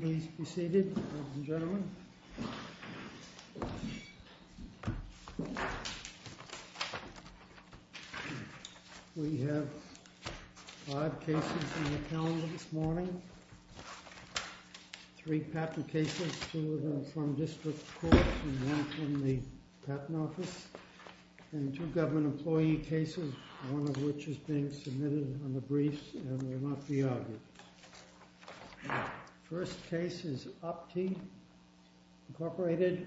Please be seated, ladies and gentlemen. We have five cases in the calendar this morning. Three patent cases, two from district courts and one from the patent office. And two government employee cases, one of which is being submitted on the briefs and will not be argued. First case is OPTi Inc. v.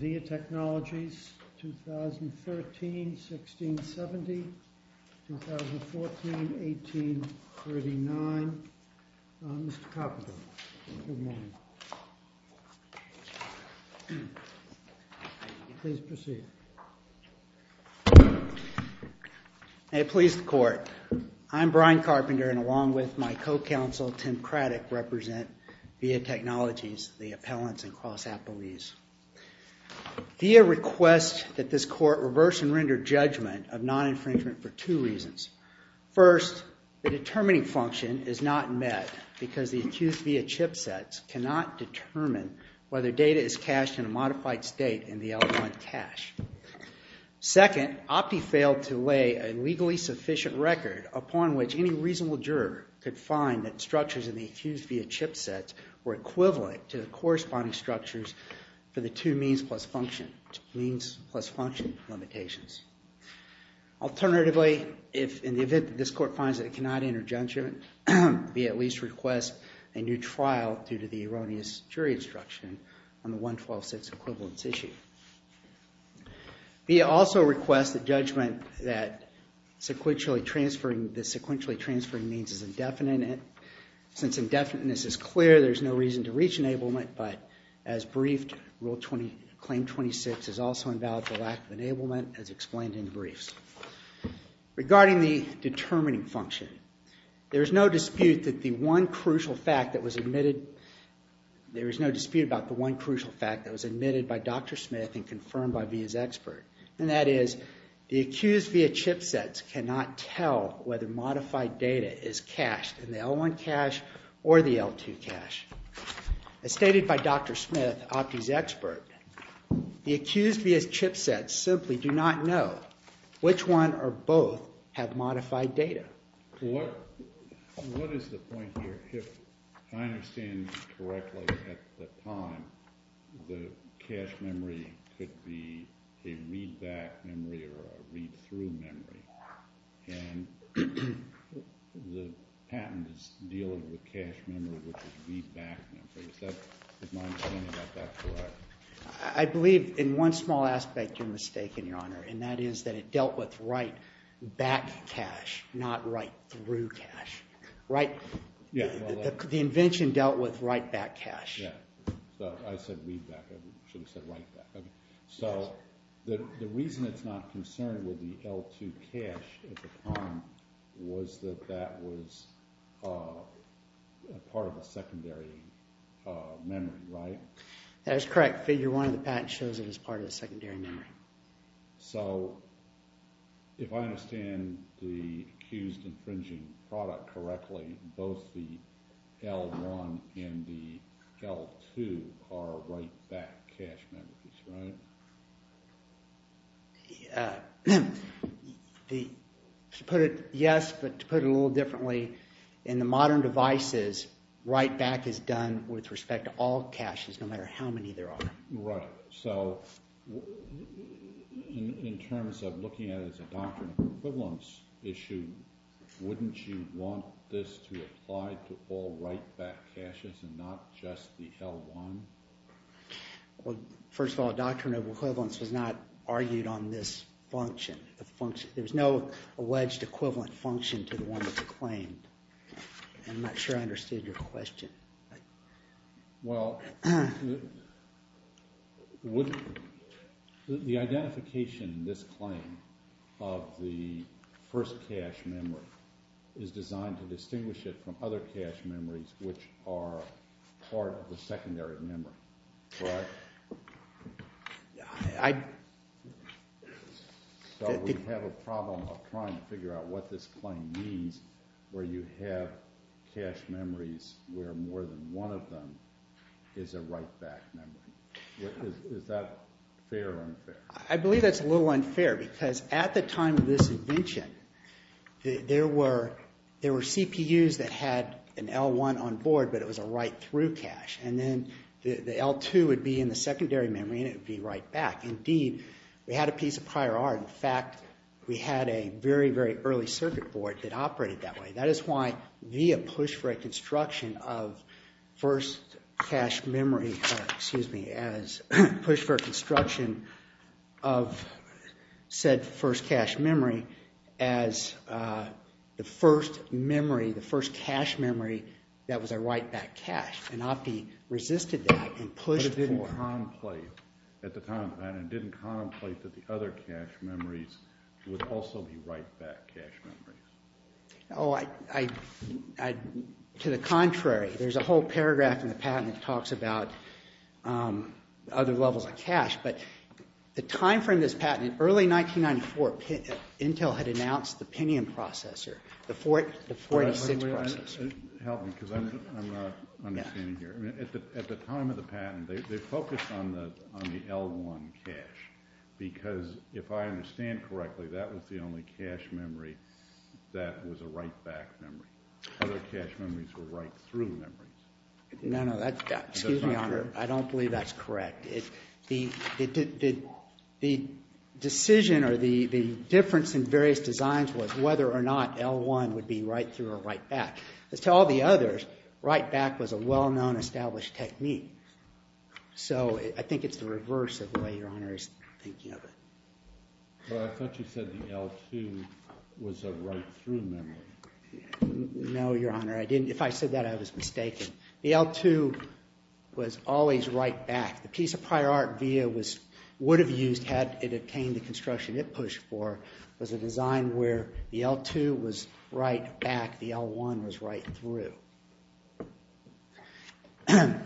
VIA Technologies, 2013-1670, 2014-1839. Mr. Carpenter, good morning. Please proceed. May it please the court. I'm Brian Carpenter, and along with my co-counsel, Tim Craddick, represent VIA Technologies, the appellants and cross-appellees. VIA requests that this court reverse and render judgment of non-infringement for two reasons. First, the determining function is not met because the accused VIA chipsets cannot determine whether data is cached in a modified state in the L1 cache. Second, OPTi failed to lay a legally sufficient record upon which any reasonable juror could find that structures in the accused VIA chipsets were equivalent to the corresponding structures for the two means plus function limitations. Alternatively, if in the event that this court finds that it cannot enter judgment, VIA at least requests a new trial due to the erroneous jury instruction on the 112-6 equivalence issue. VIA also requests the judgment that the sequentially transferring means is indefinite. Since indefiniteness is clear, there's no reason to reach enablement, but as briefed, claim 26 is also invalid for lack of enablement as explained in the briefs. Regarding the determining function, there is no dispute about the one crucial fact that was admitted by Dr. Smith and confirmed by VIA's expert. And that is, the accused VIA chipsets cannot tell whether modified data is cached in the L1 cache or the L2 cache. As stated by Dr. Smith, OPTi's expert, the accused VIA chipsets simply do not know which one or both have modified data. What is the point here? If I understand correctly, at the time, the cache memory could be a readback memory or a readthrough memory. And the patent is dealing with cache memory, which is readback memory. Is my understanding of that correct? I believe in one small aspect you're mistaken, Your Honor, and that is that it dealt with writeback cache, not writethrough cache. The invention dealt with writeback cache. I said readback. I should have said writeback. So the reason it's not concerned with the L2 cache at the time was that that was part of a secondary memory, right? That is correct. Figure 1 of the patent shows it was part of the secondary memory. So if I understand the accused infringing product correctly, both the L1 and the L2 are writeback cache memories, right? To put it, yes, but to put it a little differently, in the modern devices, writeback is done with respect to all caches, no matter how many there are. Right. So in terms of looking at it as a doctrinal equivalence issue, wouldn't you want this to apply to all writeback caches and not just the L1? Well, first of all, a doctrine of equivalence was not argued on this function. There's no alleged equivalent function to the one that's claimed. I'm not sure I understood your question. Well, the identification in this claim of the first cache memory is designed to distinguish it from other cache memories, which are part of the secondary memory, correct? So we have a problem of trying to figure out what this claim means where you have cache memories where more than one of them is a writeback memory. Is that fair or unfair? I believe that's a little unfair because at the time of this invention, there were CPUs that had an L1 on board, but it was a writethrough cache. And then the L2 would be in the secondary memory, and it would be writeback. Indeed, we had a piece of prior art. In fact, we had a very, very early circuit board that operated that way. That is why we have pushed for a construction of said first cache memory as the first memory, the first cache memory that was a writeback cache. And Oppy resisted that and pushed for it. But it didn't contemplate at the time of that. It didn't contemplate that the other cache memories would also be writeback cache memories. Oh, to the contrary. There's a whole paragraph in the patent that talks about other levels of cache. But the time frame of this patent, in early 1994, Intel had announced the Pinion processor, the 486 processor. Help me because I'm not understanding here. At the time of the patent, they focused on the L1 cache because, if I understand correctly, that was the only cache memory that was a writeback memory. Other cache memories were writethrough memories. No, no. Excuse me, Honor. I don't believe that's correct. The decision or the difference in various designs was whether or not L1 would be writethrough or writeback. As to all the others, writeback was a well-known established technique. So I think it's the reverse of the way Your Honor is thinking of it. Well, I thought you said the L2 was a writethrough memory. No, Your Honor. I didn't. If I said that, I was mistaken. The L2 was always writeback. The piece of prior art VIA would have used, had it obtained the construction it pushed for, was a design where the L2 was writeback, the L1 was writethrough. And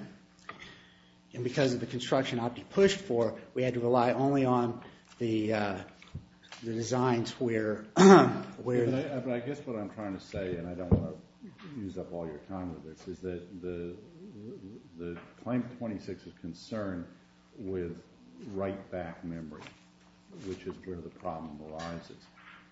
because of the construction Opti pushed for, we had to rely only on the designs where… But I guess what I'm trying to say, and I don't want to use up all your time with this, is that the Claim 26 is concerned with writeback memory, which is where the problem arises.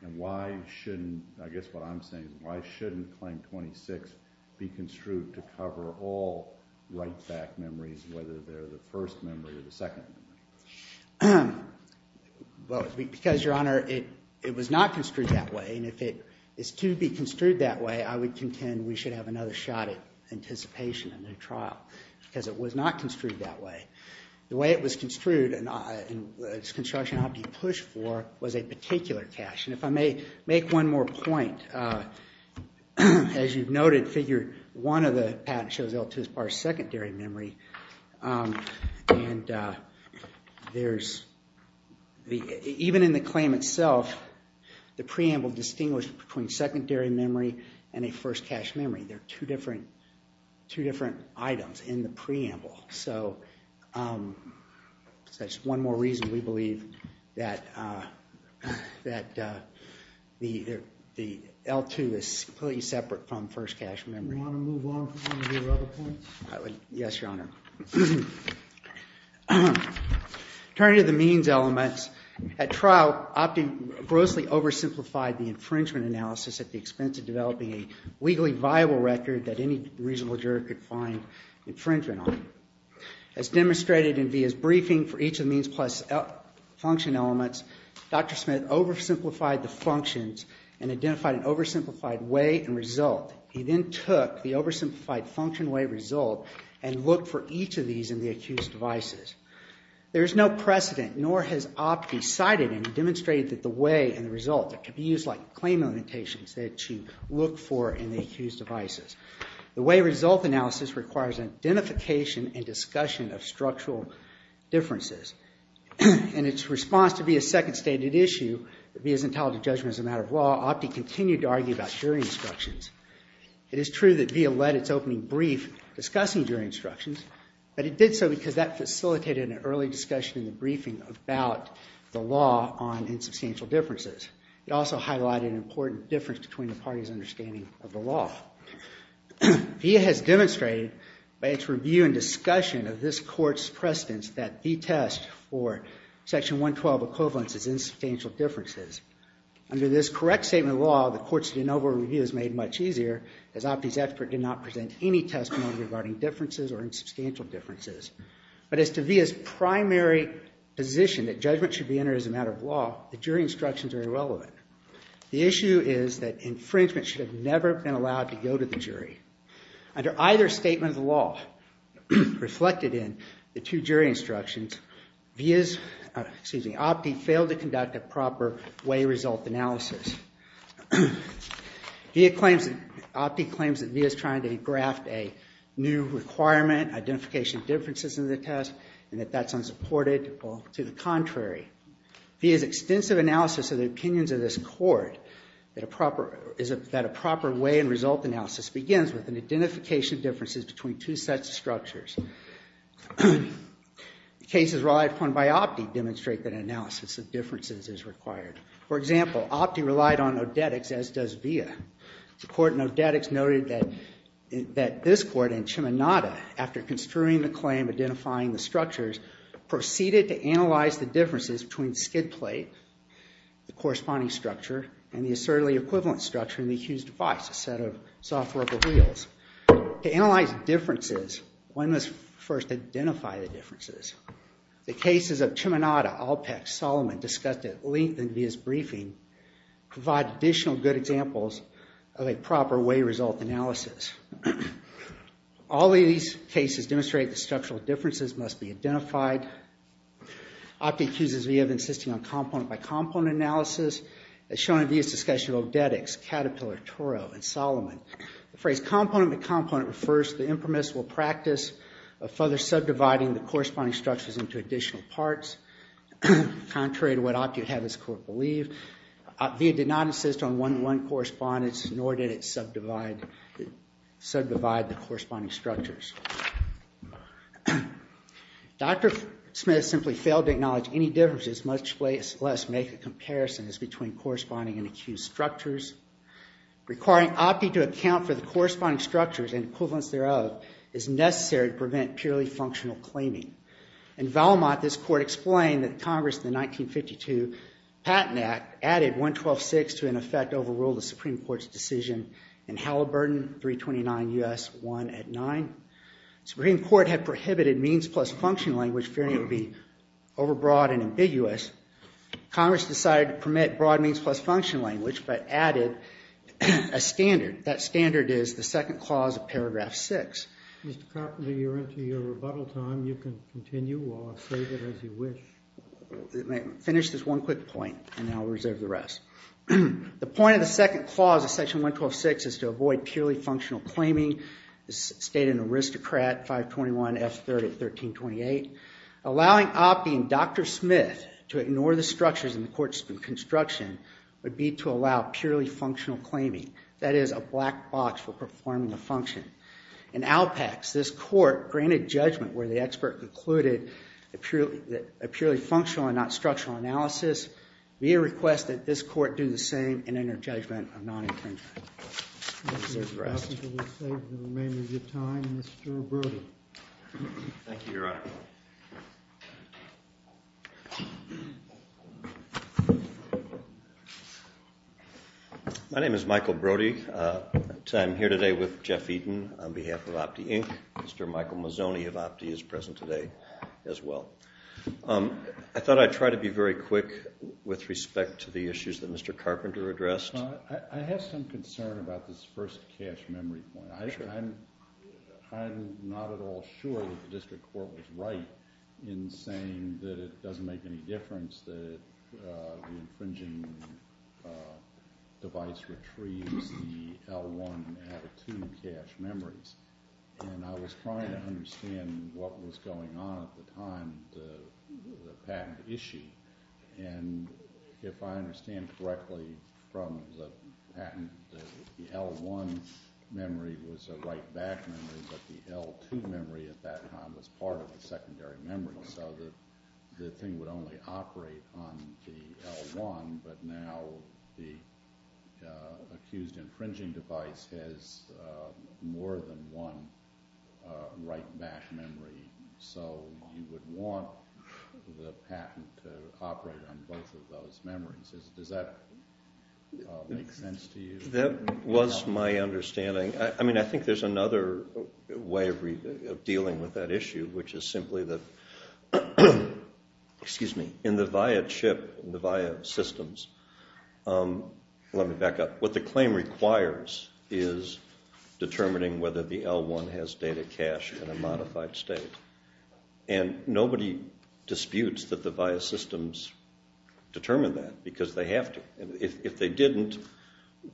And why shouldn't, I guess what I'm saying, why shouldn't Claim 26 be construed to cover all writeback memories, whether they're the first memory or the second memory? Well, because, Your Honor, it was not construed that way. And if it is to be construed that way, I would contend we should have another shot at anticipation of a new trial, because it was not construed that way. The way it was construed and its construction Opti pushed for was a particular cache. And if I may make one more point, as you've noted, Figure 1 of the patent shows L2 as part of secondary memory. And there's, even in the claim itself, the preamble distinguished between secondary memory and a first cache memory. They're two different items in the preamble. So that's one more reason we believe that the L2 is completely separate from first cache memory. Do you want to move on to your other points? Yes, Your Honor. Turning to the means elements, at trial, Opti grossly oversimplified the infringement analysis at the expense of developing a legally viable record that any reasonable juror could find infringement on. As demonstrated in VIA's briefing for each of the means plus function elements, Dr. Smith oversimplified the functions and identified an oversimplified way and result. He then took the oversimplified function way result and looked for each of these in the accused devices. There is no precedent, nor has Opti cited and demonstrated that the way and the result could be used like claim limitations that you look for in the accused devices. The way result analysis requires identification and discussion of structural differences. In its response to VIA's second stated issue, that VIA's entitled to judgment as a matter of law, Opti continued to argue about jury instructions. It is true that VIA led its opening brief discussing jury instructions, but it did so because that facilitated an early discussion in the briefing about the law on insubstantial differences. It also highlighted an important difference between the parties' understanding of the law. VIA has demonstrated by its review and discussion of this court's precedence that the test for section 112 equivalence is insubstantial differences. Under this correct statement of law, the court's de novo review is made much easier as Opti's expert did not present any testimony regarding differences or insubstantial differences. But as to VIA's primary position that judgment should be entered as a matter of law, the jury instructions are irrelevant. The issue is that infringement should have never been allowed to go to the jury. Under either statement of the law, reflected in the two jury instructions, Opti failed to conduct a proper way result analysis. Opti claims that VIA is trying to graft a new requirement, identification of differences in the test, and that that's unsupported or to the contrary. VIA's extensive analysis of the opinions of this court that a proper way and result analysis begins with an identification of differences between two sets of structures. The cases relied upon by Opti demonstrate that analysis of differences is required. For example, Opti relied on Odetics as does VIA. The court in Odetics noted that this court in Cheminada, after construing the claim, identifying the structures, proceeded to analyze the differences between skid plate, the corresponding structure, and the assertively equivalent structure in the accused device, a set of soft rubber wheels. To analyze differences, one must first identify the differences. The cases of Cheminada, Alpex, Solomon discussed at length in VIA's briefing provide additional good examples of a proper way result analysis. All these cases demonstrate that structural differences must be identified. Opti accuses VIA of insisting on component by component analysis as shown in VIA's discussion of Odetics, Caterpillar, Toro, and Solomon. The phrase component by component refers to the impermissible practice of further subdividing the corresponding structures into additional parts, contrary to what Opti would have this court believe. VIA did not insist on one-to-one correspondence, nor did it subdivide the corresponding structures. Dr. Smith simply failed to acknowledge any differences, much less make a comparison as between corresponding and accused structures. Requiring Opti to account for the corresponding structures and equivalents thereof is necessary to prevent purely functional claiming. In Valmont, this court explained that Congress in the 1952 Patent Act added 112.6 to, in effect, overrule the Supreme Court's decision in Halliburton 329 U.S. 1 at 9. The Supreme Court had prohibited means plus function language, fearing it would be overbroad and ambiguous. Congress decided to permit broad means plus function language, but added a standard. That standard is the second clause of paragraph 6. Mr. Carpenter, you're into your rebuttal time. You can continue or save it as you wish. Let me finish this one quick point, and then I'll reserve the rest. The point of the second clause of section 112.6 is to avoid purely functional claiming. It's stated in Aristocrat 521F3 at 1328. Allowing Opti and Dr. Smith to ignore the structures in the court's construction would be to allow purely functional claiming. That is, a black box for performing a function. In Alpax, this court granted judgment where the expert concluded a purely functional and not structural analysis. We request that this court do the same and enter judgment of non-imprisonment. I'll reserve the rest. We'll save the remainder of your time. Mr. Brody. Thank you, Your Honor. My name is Michael Brody. I'm here today with Jeff Eaton on behalf of Opti, Inc. Mr. Michael Mazzoni of Opti is present today as well. I thought I'd try to be very quick with respect to the issues that Mr. Carpenter addressed. I have some concern about this first cache memory point. I'm not at all sure that the district court was right in saying that it doesn't make any difference that the infringing device retrieves the L1 attitude cache memories. And I was trying to understand what was going on at the time with the patent issue. If I understand correctly from the patent, the L1 memory was a write-back memory, but the L2 memory at that time was part of the secondary memory. So the thing would only operate on the L1, but now the accused infringing device has more than one write-back memory. So you would want the patent to operate on both of those memories. Does that make sense to you? That was my understanding. I mean, I think there's another way of dealing with that issue, which is simply that in the VIA chip, the VIA systems, let me back up. What the claim requires is determining whether the L1 has data cache in a modified state. And nobody disputes that the VIA systems determine that, because they have to. If they didn't,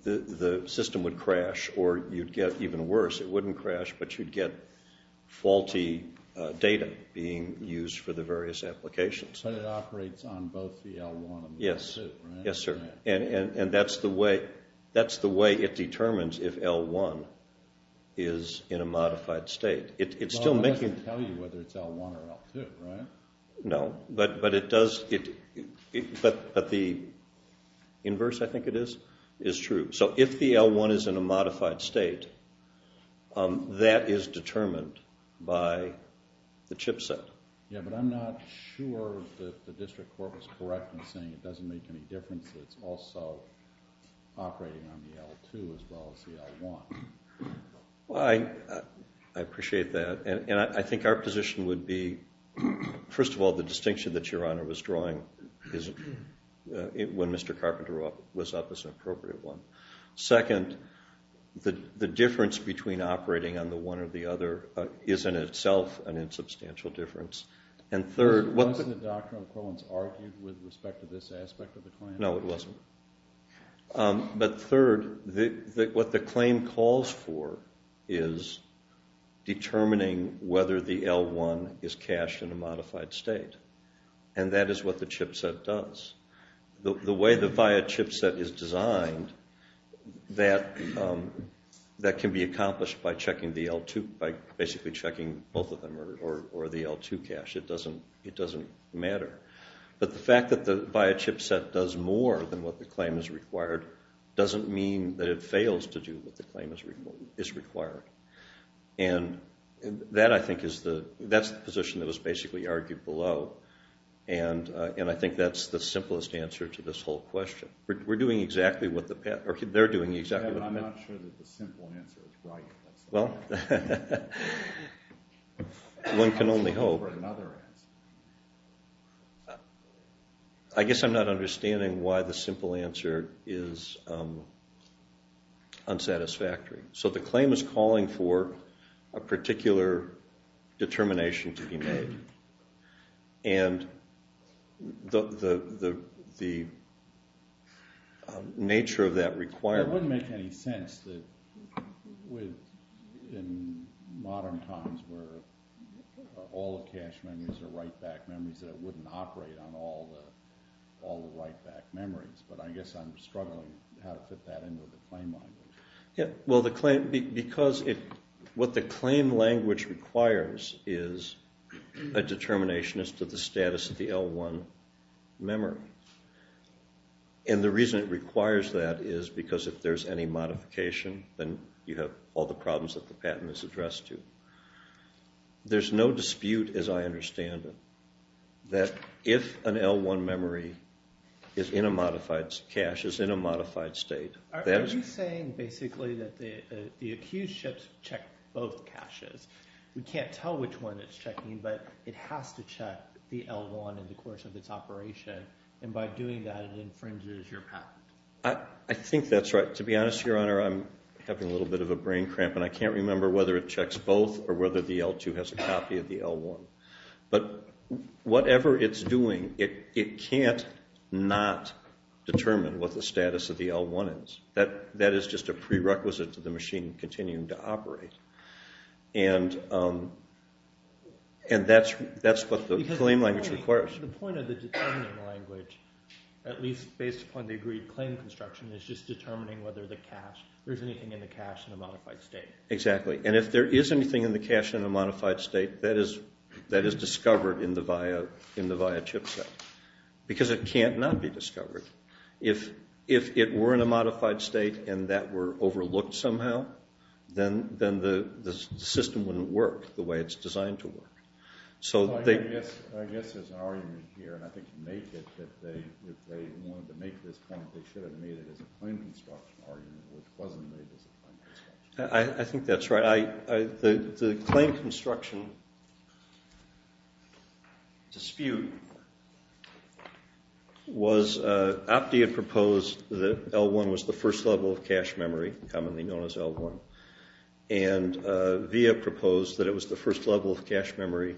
the system would crash, or you'd get even worse. It wouldn't crash, but you'd get faulty data being used for the various applications. So it operates on both the L1 and the L2, right? Yes, sir. And that's the way it determines if L1 is in a modified state. Well, it doesn't tell you whether it's L1 or L2, right? No, but the inverse, I think it is, is true. So if the L1 is in a modified state, that is determined by the chip set. Yeah, but I'm not sure that the district court was correct in saying it doesn't make any difference that it's also operating on the L2 as well as the L1. Well, I appreciate that. And I think our position would be, first of all, the distinction that Your Honor was drawing when Mr. Carpenter was up is an appropriate one. Second, the difference between operating on the one or the other is in itself an insubstantial difference. Was the doctrine of equivalence argued with respect to this aspect of the claim? No, it wasn't. But third, what the claim calls for is determining whether the L1 is cached in a modified state. And that is what the chip set does. The way the VIA chip set is designed, that can be accomplished by basically checking both of them or the L2 cache. It doesn't matter. But the fact that the VIA chip set does more than what the claim has required doesn't mean that it fails to do what the claim is requiring. And that, I think, is the position that was basically argued below. And I think that's the simplest answer to this whole question. We're doing exactly what the patent... Or they're doing exactly what the patent... I'm not sure that the simple answer is right. Well, one can only hope. I'm looking for another answer. I guess I'm not understanding why the simple answer is unsatisfactory. So the claim is calling for a particular determination to be made. And the nature of that requirement... It wouldn't make any sense that in modern times where all the cached memories are write-back memories, that it wouldn't operate on all the write-back memories. But I guess I'm struggling how to put that into the claim language. Because what the claim language requires is a determination as to the status of the L1 memory. And the reason it requires that is because if there's any modification, then you have all the problems that the patent is addressed to. There's no dispute, as I understand it, that if an L1 memory is in a modified state... Are you saying basically that the accused ships check both caches? We can't tell which one it's checking, but it has to check the L1 in the course of its operation. And by doing that, it infringes your patent. I think that's right. To be honest, Your Honor, I'm having a little bit of a brain cramp, and I can't remember whether it checks both or whether the L2 has a copy of the L1. But whatever it's doing, it can't not determine what the status of the L1 is. That is just a prerequisite to the machine continuing to operate. And that's what the claim language requires. The point of the determining language, at least based upon the agreed claim construction, is just determining whether there's anything in the cache in a modified state. Exactly. And if there is anything in the cache in a modified state, that is discovered in the VIA chipset. Because it can't not be discovered. If it were in a modified state and that were overlooked somehow, then the system wouldn't work the way it's designed to work. I guess there's an argument here, and I think you make it, that if they wanted to make this point, they should have made it as a claim construction argument, which wasn't made as a claim construction argument. I think that's right. The claim construction dispute was Optia proposed that L1 was the first level of cache memory, commonly known as L1. And VIA proposed that it was the first level of cache memory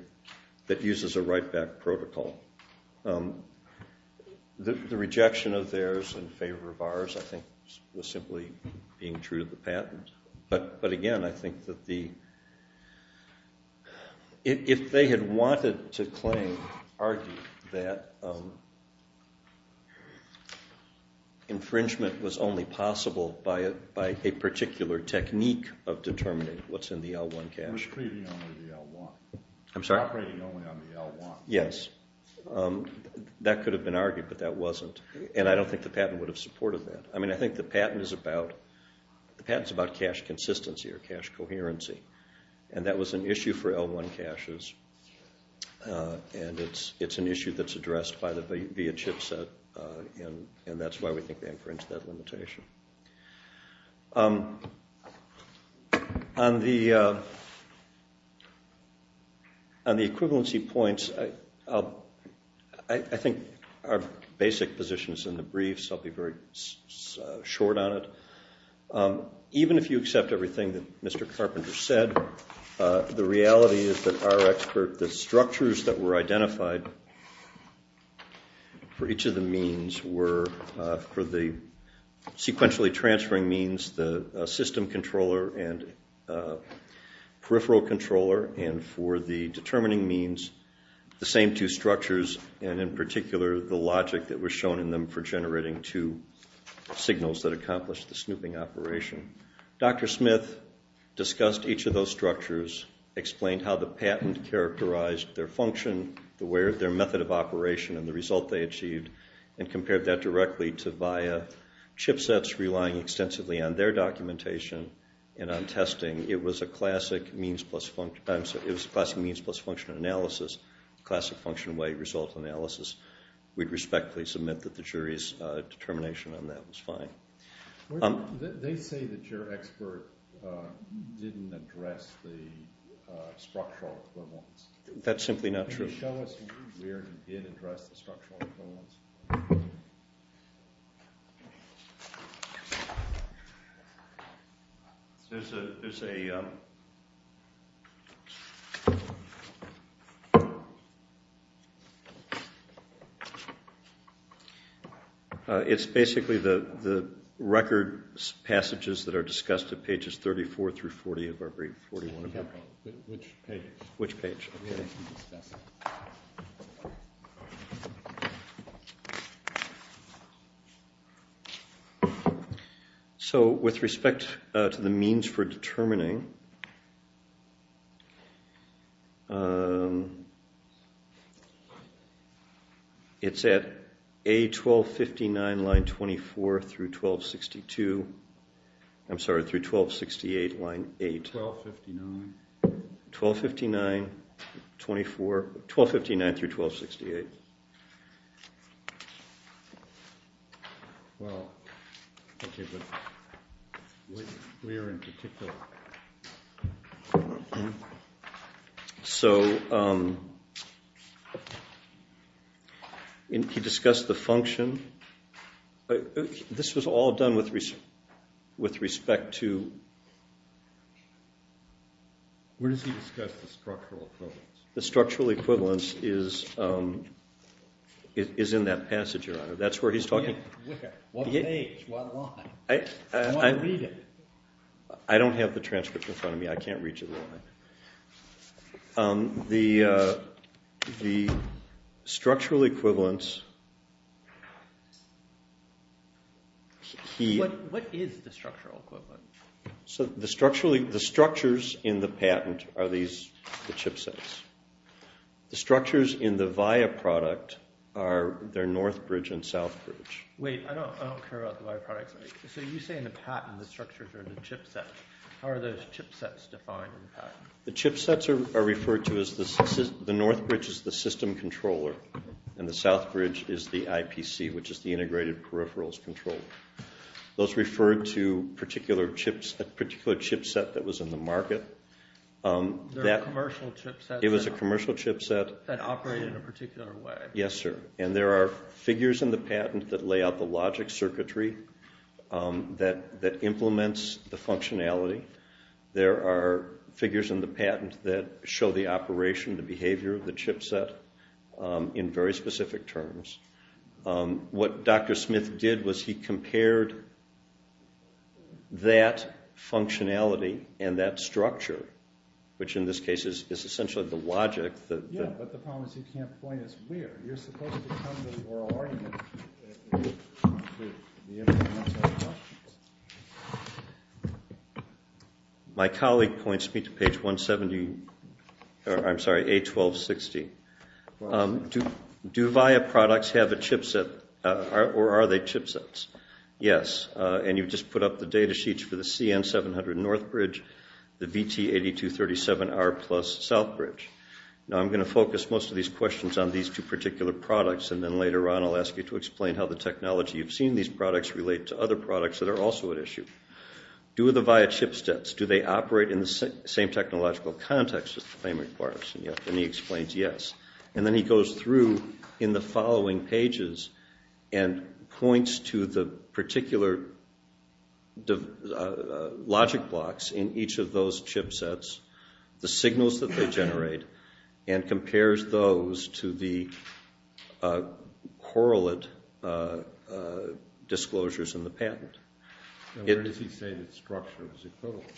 that uses a write-back protocol. The rejection of theirs in favor of ours, I think, was simply being true to the patent. But again, I think that if they had wanted to claim, argue that infringement was only possible by a particular technique of determining what's in the L1 cache. It was operating only on the L1. I'm sorry? Operating only on the L1. Yes. That could have been argued, but that wasn't. And I don't think the patent would have supported that. I mean, I think the patent is about cache consistency or cache coherency. And that was an issue for L1 caches. And it's an issue that's addressed by the VIA chipset, and that's why we think they infringed that limitation. On the equivalency points, I think our basic position is in the brief, so I'll be very short on it. Even if you accept everything that Mr. Carpenter said, the reality is that our expert, the structures that were identified for each of the means were for the sequentially transferring means, the system controller and peripheral controller, and for the determining means, the same two structures, and in particular the logic that was shown in them for generating two signals that accomplished the snooping operation. Dr. Smith discussed each of those structures, explained how the patent characterized their function, their method of operation, and the result they achieved, and compared that directly to VIA chipsets relying extensively on their documentation and on testing. It was a classic means plus function analysis, classic function weight result analysis. We'd respectfully submit that the jury's determination on that was fine. They say that your expert didn't address the structural equivalence. That's simply not true. Can you show us where you did address the structural equivalence? There's a—it's basically the record passages that are discussed at pages 34 through 40 of our brief, 41 of it. Which page? Which page? So with respect to the means for determining, it's at A1259, line 24 through 1262—I'm sorry, through 1268, line 8. 1259? 1259, 24—1259 through 1268. 1268. Well, okay, but where in particular? So he discussed the function. This was all done with respect to— Where does he discuss the structural equivalence? The structural equivalence is in that passage, Your Honor. That's where he's talking— Where? What page? What line? I want to read it. I don't have the transcript in front of me. I can't read you the line. The structural equivalence— What is the structural equivalence? The structures in the patent are the chipsets. The structures in the VIA product are their north bridge and south bridge. Wait, I don't care about the VIA product. So you say in the patent the structures are the chipsets. How are those chipsets defined in the patent? The chipsets are referred to as the—the north bridge is the system controller, and the south bridge is the IPC, which is the integrated peripherals controller. Those refer to a particular chipset that was in the market. They're commercial chipsets— It was a commercial chipset. That operated in a particular way. Yes, sir. And there are figures in the patent that lay out the logic circuitry that implements the functionality. There are figures in the patent that show the operation, the behavior of the chipset in very specific terms. What Dr. Smith did was he compared that functionality and that structure, which in this case is essentially the logic that— Yeah, but the problem is he can't point us where. You're supposed to come to the oral argument. My colleague points me to page 170—I'm sorry, A1260. Do Viya products have a chipset, or are they chipsets? Yes, and you just put up the data sheets for the CN700 north bridge, the VT8237R plus south bridge. Now, I'm going to focus most of these questions on these two particular products, and then later on I'll ask you to explain how the technology you've seen these products relate to other products that are also at issue. Do the Viya chipsets, do they operate in the same technological context as the claim requires? And he explains yes, and then he goes through in the following pages and points to the particular logic blocks in each of those chipsets, the signals that they generate, and compares those to the correlate disclosures in the patent. Where does he say the structure is equivalent?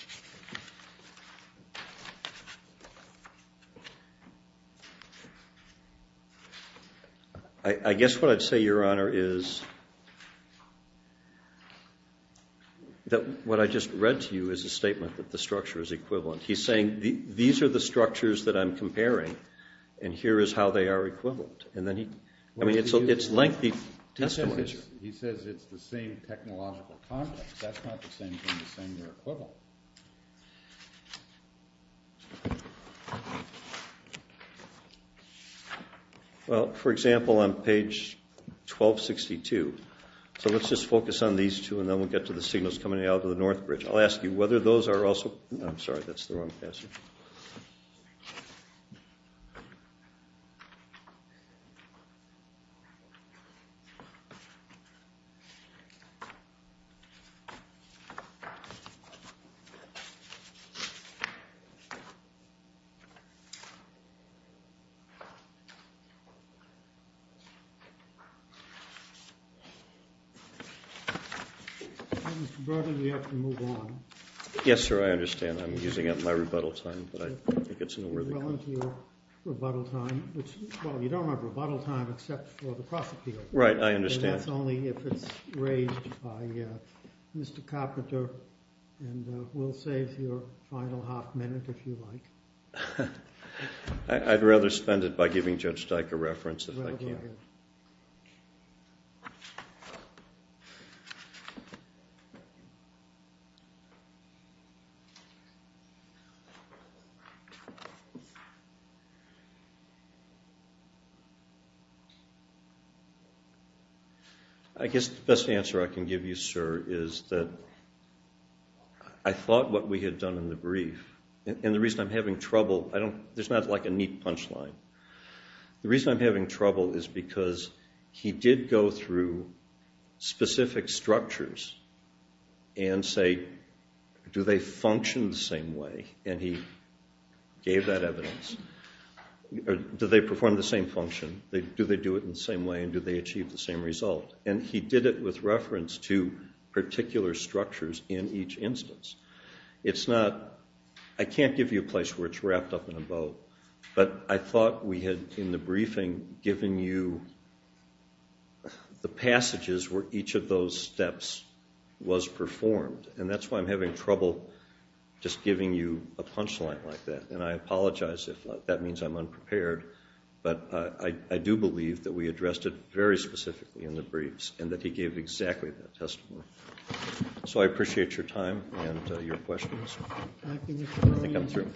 I guess what I'd say, Your Honor, is that what I just read to you is a statement that the structure is equivalent. He's saying these are the structures that I'm comparing, and here is how they are equivalent. And then he—I mean, it's lengthy testimony. He says it's the same technological context. That's not the same thing. The same, they're equivalent. Well, for example, on page 1262, so let's just focus on these two, and then we'll get to the signals coming out of the North Bridge. I'll ask you whether those are also—I'm sorry, that's the wrong passage. Mr. Burden, we have to move on. Yes, sir, I understand. I'm using up my rebuttal time, but I don't think it's in a worthy— You're going to your rebuttal time, which—well, you don't have rebuttal time except for the prosecutor. Right, I understand. And that's only if it's raised by Mr. Carpenter, and we'll save your final half minute if you like. I'd rather spend it by giving Judge Dyke a reference if I can. I guess the best answer I can give you, sir, is that I thought what we had done in the brief, and the reason I'm having trouble—there's not like a neat punchline. The reason I'm having trouble is because he did go through specific structures and say, do they function the same way? And he gave that evidence. Do they perform the same function? Do they do it in the same way, and do they achieve the same result? And he did it with reference to particular structures in each instance. It's not—I can't give you a place where it's wrapped up in a bow, but I thought we had in the briefing given you the passages where each of those steps was performed, and that's why I'm having trouble just giving you a punchline like that. And I apologize if that means I'm unprepared, but I do believe that we addressed it very specifically in the briefs and that he gave exactly that testimony. So I appreciate your time and your questions. I think I'm through.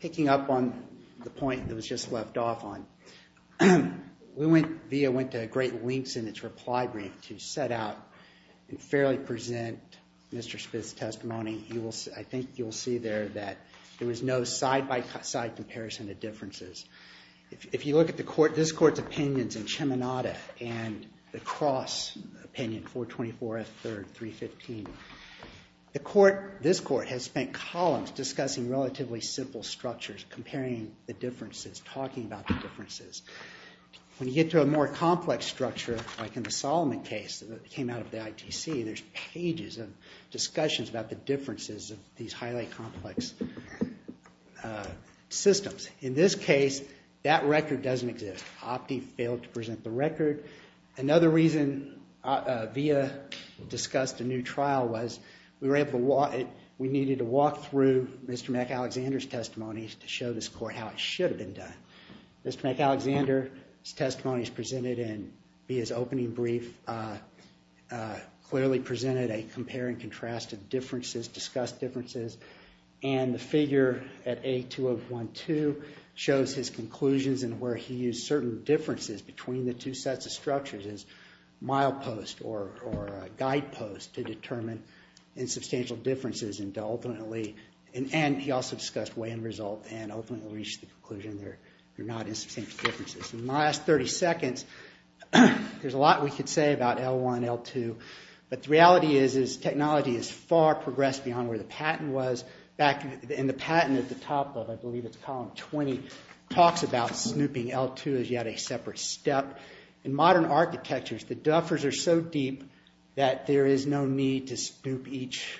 Picking up on the point that was just left off on, we went—VIA went to great lengths in its reply brief to set out and fairly present Mr. Spitz's testimony. I think you'll see there that there was no side-by-side comparison of differences. If you look at this Court's opinions in Cheminada and the Cross opinion, 424F3, 315, this Court has spent columns discussing relatively simple structures, comparing the differences, talking about the differences. When you get to a more complex structure, like in the Solomon case that came out of the ITC, there's pages of discussions about the differences of these highly complex systems. In this case, that record doesn't exist. OPTI failed to present the record. Another reason VIA discussed a new trial was we needed to walk through Mr. McAlexander's testimonies to show this Court how it should have been done. Mr. McAlexander's testimonies presented in VIA's opening brief clearly presented a compare and contrast of differences, discussed differences. And the figure at A2012 shows his conclusions and where he used certain differences between the two sets of structures as mileposts or guideposts to determine insubstantial differences and ultimately— they're not insubstantial differences. In the last 30 seconds, there's a lot we could say about L1, L2, but the reality is technology has far progressed beyond where the patent was. In the patent at the top of, I believe it's column 20, talks about snooping L2 as yet a separate step. In modern architectures, the duffers are so deep that there is no need to snoop each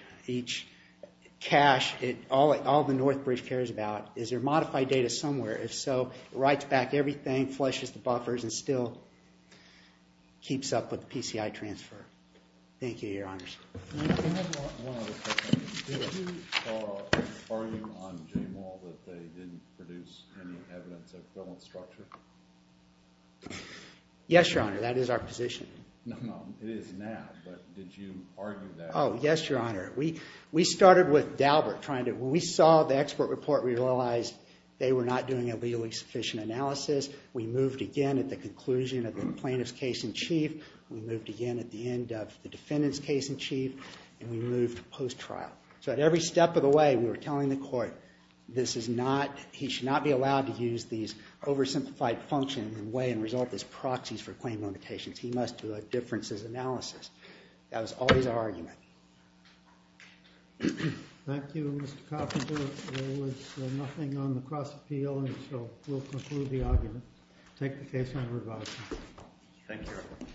cache. All the North Bridge cares about is there modified data somewhere. If so, it writes back everything, flushes the buffers, and still keeps up with PCI transfer. Thank you, Your Honors. Can I have one other question? Did you argue on J-Mall that they didn't produce any evidence of filament structure? Yes, Your Honor, that is our position. No, it is now, but did you argue that? Oh, yes, Your Honor. We started with Daubert trying to— they were not doing a legally sufficient analysis. We moved again at the conclusion of the plaintiff's case in chief. We moved again at the end of the defendant's case in chief, and we moved post-trial. So at every step of the way, we were telling the court, this is not—he should not be allowed to use these oversimplified functions and weigh and resolve these proxies for claim limitations. He must do a differences analysis. That was always our argument. Thank you, Mr. Coffin. Your Honor, there was nothing on the cross-appeal, and so we'll conclude the argument. Take the case on review. Thank you, Your Honor.